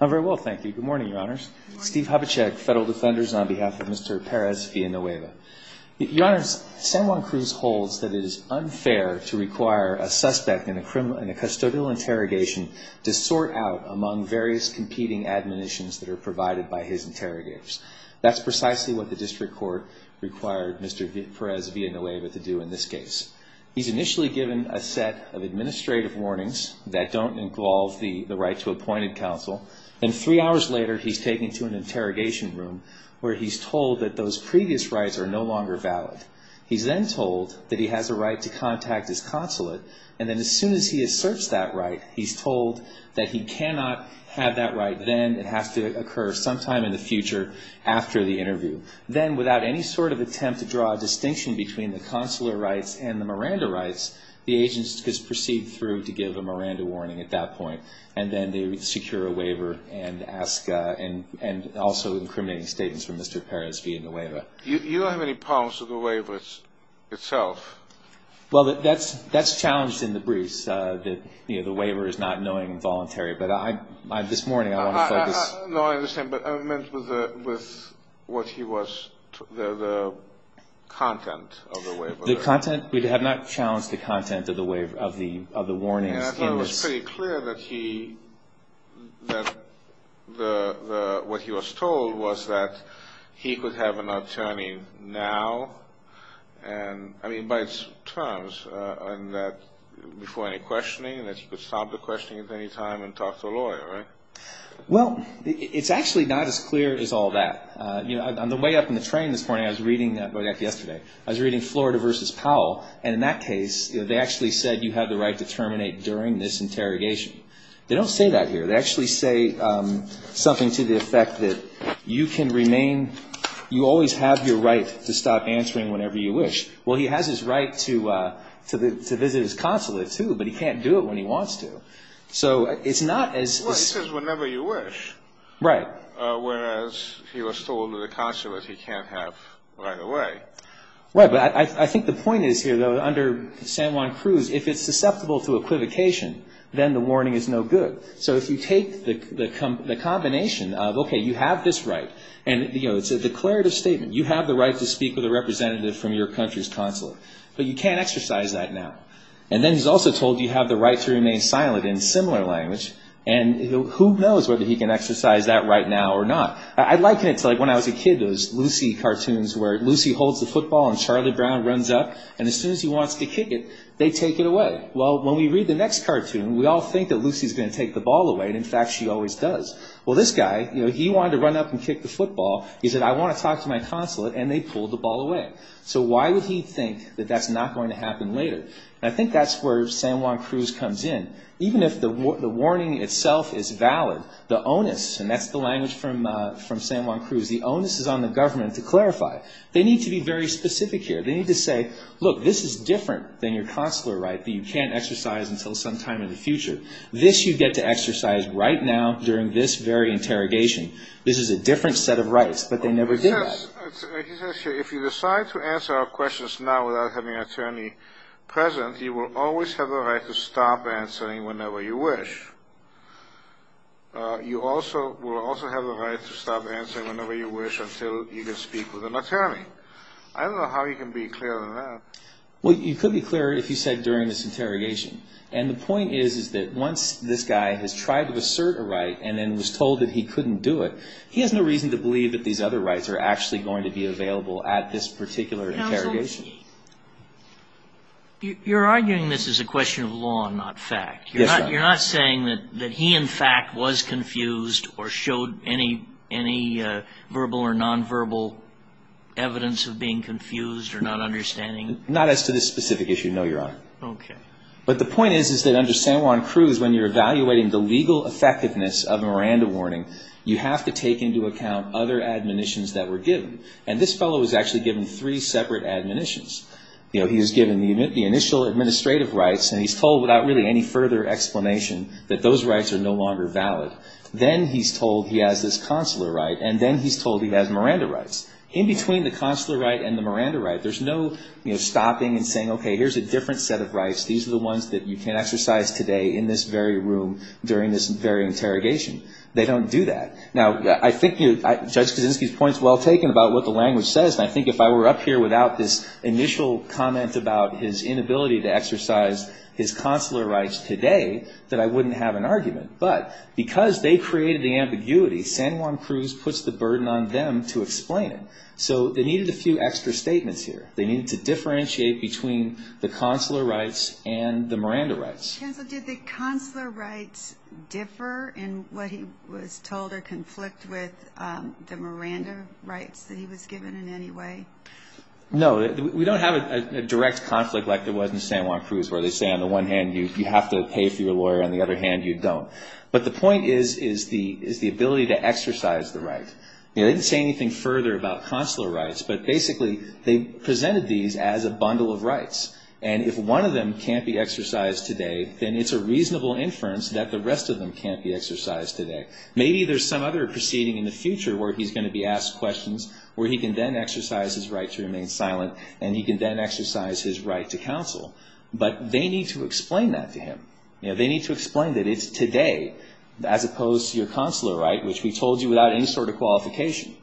on behalf of Mr. Perez-Villanueva. Your honors, San Juan Cruz holds that it is unfair to require a suspect in a criminal, in a custodial interrogation to sort out among various competing admonitions that are provided by his interrogators. That's precisely what the district court required Mr. Perez-Villanueva to do in this case. He's initially given a set of administrative warnings that don't involve the right to appointed counsel, and three hours later he's taken to an interrogation room where he's told that those previous rights are no longer valid. He's then told that he has a right to contact his consulate, and then as soon as he asserts that right, he's told that he cannot have that right then, it has to occur sometime in the future after the interview. Then, without any sort of attempt to draw a distinction between the consular rights and the Miranda rights, the agent is to proceed through to the Miranda warning at that point, and then they secure a waiver and ask, and also incriminating statements from Mr. Perez-Villanueva. You don't have any problems with the waiver itself? Well, that's challenged in the briefs, that the waiver is not knowing and voluntary, but I, this morning I want to focus... No, I understand, but I meant with what he was, the content of the waiver. The content, we have not challenged the content of the waiver, of the warnings in this. I thought it was pretty clear that he, that the, what he was told was that he could have an attorney now, and, I mean, by its terms, and that before any questioning, that he could stop the questioning at any time and talk to a lawyer, right? Well, it's actually not as clear as all that. On the way up in the train this morning, I was reading Florida v. Powell, and in that case, they actually said you had the right to terminate during this interrogation. They don't say that here. They actually say something to the effect that you can remain, you always have your right to stop answering whenever you wish. Well, he has his right to visit his consulate, too, but he can't do it when he wants to. So, it's not as... Well, he says whenever you wish, whereas he was told in the consulate he can't have right to remain silent. Right, but I think the point is here, though, under San Juan Cruz, if it's susceptible to equivocation, then the warning is no good. So, if you take the combination of, okay, you have this right, and, you know, it's a declarative statement. You have the right to speak with a representative from your country's consulate, but you can't exercise that now. And then he's also told you have the right to remain silent in similar language, and who knows whether he can exercise that right now or not. I liken it to, like, when I was a kid, those Lucy cartoons where Lucy holds the football and Charlie Brown runs up, and as soon as he wants to kick it, they take it away. Well, when we read the next cartoon, we all think that Lucy's going to take the ball away, and, in fact, she always does. Well, this guy, you know, he wanted to run up and kick the football. He said, I want to talk to my consulate, and they pulled the ball away. So, why would he think that that's not going to happen later? And I think that's where San Juan Cruz comes in. Even if the warning itself is valid, the onus, and that's the language from San Juan Cruz, the onus is on the government to clarify. They need to be very specific here. They need to say, look, this is different than your consular right that you can't exercise until some time in the future. This you get to exercise right now during this very interrogation. This is a different set of rights, but they never did that. He says here, if you decide to answer our questions now without having an attorney present, you will always have the right to stop answering whenever you wish. You also will also have the right to stop answering whenever you wish until you can speak with an attorney. I don't know how you can be clearer than that. Well, you could be clearer if you said during this interrogation. And the point is, is that once this guy has tried to assert a right and then was told that he couldn't do it, he has no reason to believe that these other rights are actually going to be available at this particular interrogation. You're arguing this is a question of law and not fact. Yes, I am. Are you saying that he, in fact, was confused or showed any verbal or nonverbal evidence of being confused or not understanding? Not as to this specific issue, no, Your Honor. But the point is, is that under San Juan Cruz, when you're evaluating the legal effectiveness of Miranda warning, you have to take into account other admonitions that were given. And this fellow was actually given three separate admonitions. You know, he was given the initial administrative rights, and he's told without really any further explanation that those rights are no longer valid. Then he's told he has this consular right. And then he's told he has Miranda rights. In between the consular right and the Miranda right, there's no, you know, stopping and saying, okay, here's a different set of rights. These are the ones that you can exercise today in this very room during this very interrogation. They don't do that. Now, I think Judge Kaczynski's point is well taken about what the language says. And I exercise his consular rights today that I wouldn't have an argument. But because they created the ambiguity, San Juan Cruz puts the burden on them to explain it. So they needed a few extra statements here. They needed to differentiate between the consular rights and the Miranda rights. Counsel, did the consular rights differ in what he was told or conflict with the Miranda rights that he was given in any way? No. We don't have a direct conflict like there was in San Juan Cruz where they say on the one hand you have to pay if you're a lawyer. On the other hand, you don't. But the point is the ability to exercise the right. They didn't say anything further about consular rights. But basically, they presented these as a bundle of rights. And if one of them can't be exercised today, then it's a reasonable inference that the rest of them can't be exercised today. Maybe there's some other proceeding in the future where he's going to be asked questions where he can then exercise his right to remain silent and he can then exercise his right to counsel. But they need to explain that to him. They need to explain that it's today as opposed to your consular right, which we told you without any sort of qualification.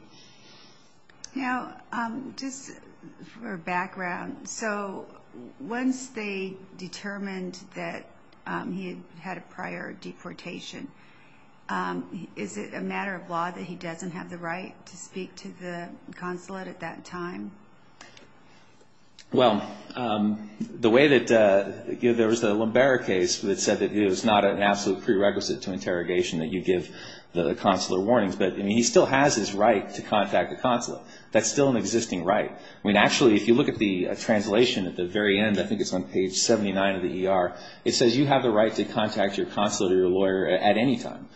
Now, just for background, so once they determined that he had a prior deportation, is it a matter of law that he doesn't have the right to speak to the consulate at that time? The way that there was the Lumbera case that said that it was not an absolute prerequisite to interrogation that you give the consular warnings. But he still has his right to contact the consulate. That's still an existing right. I mean, actually, if you look at the translation at the very end, I think it's on page 79 of the ER, it says you have the right to contact your consulate or your lawyer at any time.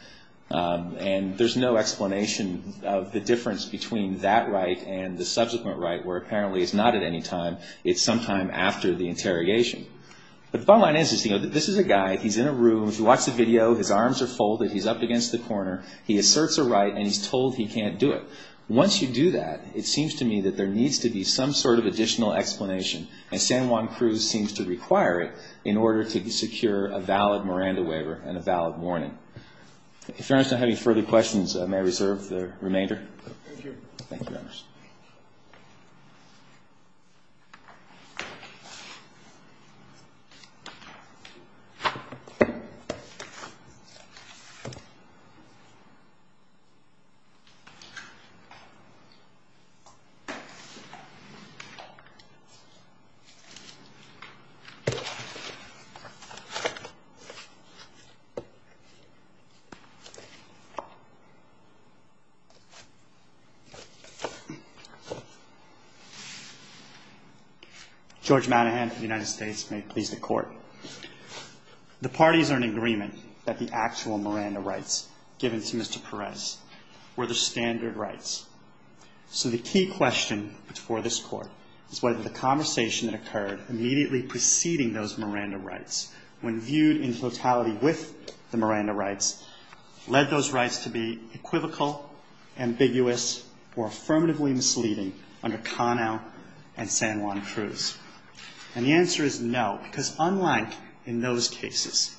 And there's no explanation of the difference between that right and the subsequent right where apparently it's not at any time, it's sometime after the interrogation. But the bottom line is, you know, this is a guy, he's in a room, he watches a video, his arms are folded, he's up against the corner, he asserts a right and he's told he can't do it. Once you do that, it seems to me that there needs to be some sort of additional explanation. And San Juan Cruz seems to require it in order to secure a valid Miranda waiver and a valid warning. If Your Honor is not having further questions, I may reserve the remainder. Thank you, Your Honors. Judge Manahan of the United States, may it please the Court. The parties are in agreement that the actual Miranda rights given to Mr. Perez were the standard rights. So the key question for this Court is whether the conversation that occurred immediately preceding those Miranda rights, when viewed in totality with the Miranda rights, led those rights to be equivocal, ambiguous, or affirmatively misleading under Conow and San Juan Cruz. And the answer is no, because unlike in those cases,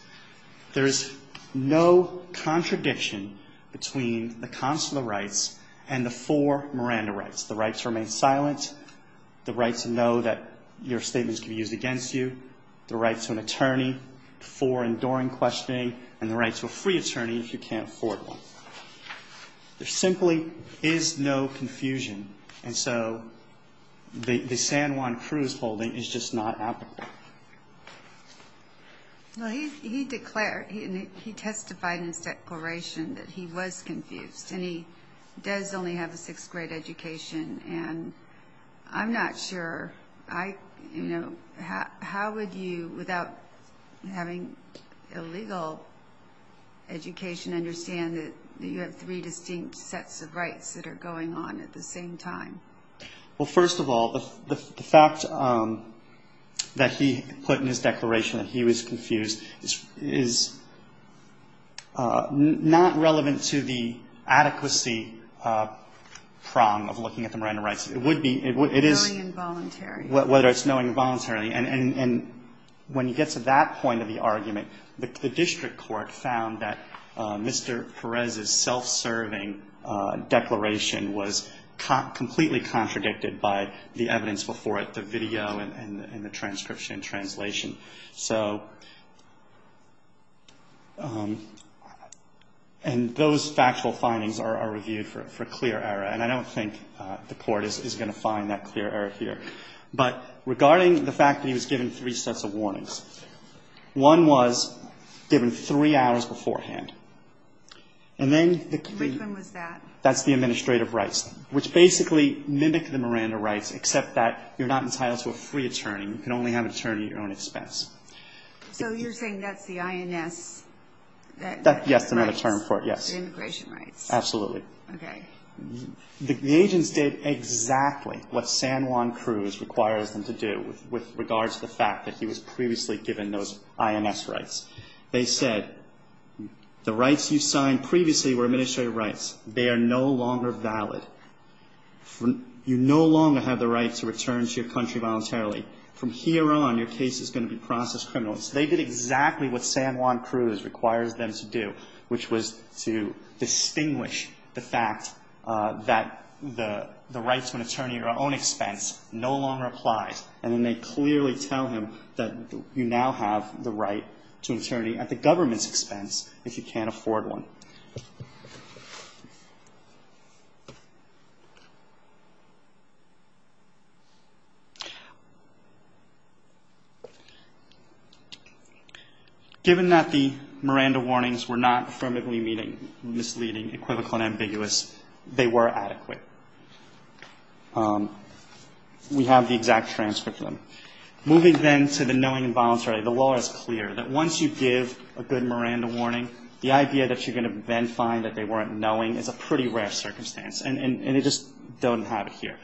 there is no contradiction between the consular rights and the four Miranda rights. The right to remain silent, the right to know that your statements can be used against you, the right to an attorney for enduring questioning, and the right to a free attorney if you can't afford one. There simply is no confusion, and so the San Juan Cruz holding is just not applicable. Well, he testified in his declaration that he was confused, and he does only have a sixth grade education, and I'm not sure. How would you, without having a legal education, understand that you have three distinct sets of rights that are going on at the same time? Well, first of all, the fact that he put in his declaration that he was confused is not relevant to the adequacy prong of looking at the Miranda rights. It would be It would be knowing involuntarily. Whether it's knowing involuntarily. And when you get to that point of the argument, the district court found that Mr. Perez's self-serving declaration was completely contradicted by the evidence before it, the video and the transcription and translation. And those factual findings are reviewed for clear error, and I don't think the court is going to find that clear error here. But regarding the fact that he was given three sets of warnings, one was given three hours beforehand, and then the Which one was that? That's the administrative rights, which basically mimic the Miranda rights, except that you're not entitled to a free attorney. You can only have an attorney at your own expense. So you're saying that's the INS rights? Yes, another term for it, yes. Immigration rights. Absolutely. Okay. The agents did exactly what San Juan Cruz requires them to do with regards to the fact that he was previously given those INS rights. They said, the rights you signed previously were administrative rights. They are no longer valid. You no longer have the right to return to your country voluntarily. From here on, your case is going to be processed criminally. So they did exactly what San Juan Cruz requires them to do, which was to distinguish the fact that the rights of an attorney at your own expense no longer applies. And then they clearly tell him that you now have the right to an attorney at the government's expense if you can't afford one. Given that the Miranda warnings were not affirmatively misleading, equivocal, and ambiguous, they were adequate. We have the exact transcript of them. Moving then to the knowing involuntarily, the law is clear that once you give a good Miranda warning, the idea that you're going to then find that they weren't knowing is a pretty rare circumstance. And they just don't have it here.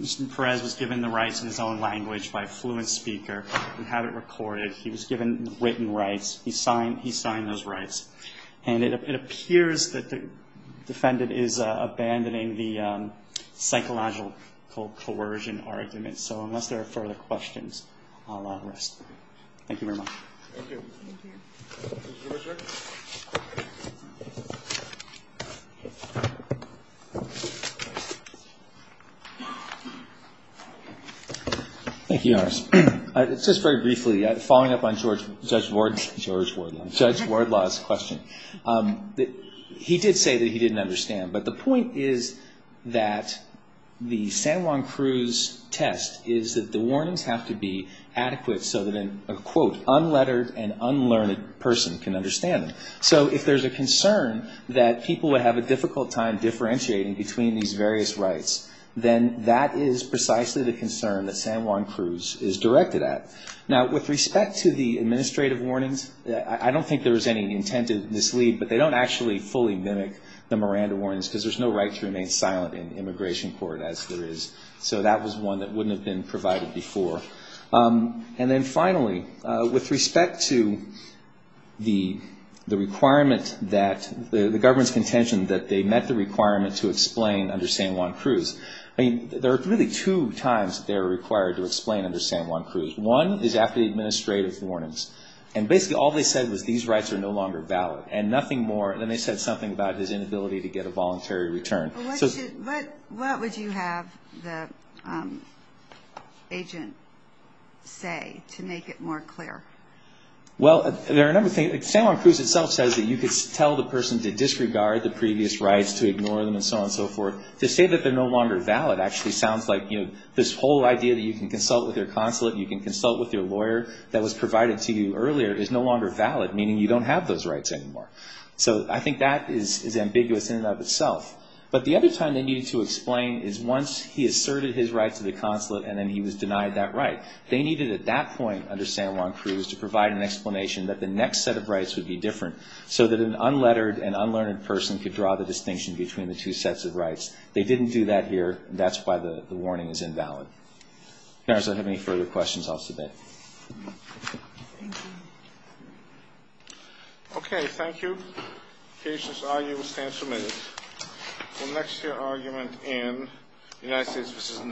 Mr. Perez was given the rights in his own language by a fluent speaker. We have it recorded. He was given written rights. He signed those rights. And it appears that the defendant is abandoning the psychological coercion argument. So unless there are further questions, I'll let him rest. Thank you very much. Thank you. Thank you. Judge Wardlaw, sir. Thank you, Your Honor. Just very briefly, following up on Judge Wardlaw's question, he did say that he didn't understand. But the point is that the San Juan Cruz test is that the warnings have to be adequate so that an, quote, unlettered and unlearned person can understand them. So if there's a concern that people would have a difficult time differentiating between these various rights, then that is precisely the concern that San Juan Cruz is directed at. Now, with respect to the administrative warnings, I don't think there was any intent to mislead, but they don't actually fully mimic the Miranda warnings because there's no right to remain silent in immigration court, as there is. So that was one that wouldn't have been provided before. And then finally, with respect to the requirement that, the government's contention that they met the requirement to explain under San Juan Cruz, I mean, there are really two times they're One is after the administrative warnings. And basically, all they said was these rights are no longer valid. And nothing more, and then they said something about his inability to get a voluntary return. But what should, what, what would you have the agent say to make it more clear? Well, there are a number of things. San Juan Cruz itself says that you could tell the person to disregard the previous rights, to ignore them, and so on and so forth. To say that they're no longer valid actually sounds like, you know, this whole idea that you can consult with your consulate, you can consult with your lawyer that was provided to you earlier is no longer valid, meaning you don't have those rights anymore. So I think that is, is ambiguous in and of itself. But the other time they needed to explain is once he asserted his right to the consulate and then he was denied that right. They needed at that point under San Juan Cruz to provide an explanation that the next set of rights would be different, so that an unlettered and unlearned person could draw the distinction between the two sets of rights. They didn't do that here, and that's why the, the warning is invalid. If you guys have any further questions, I'll submit. Okay, thank you. The patient's argument will stand submitted for the next year argument in United States v. Nance.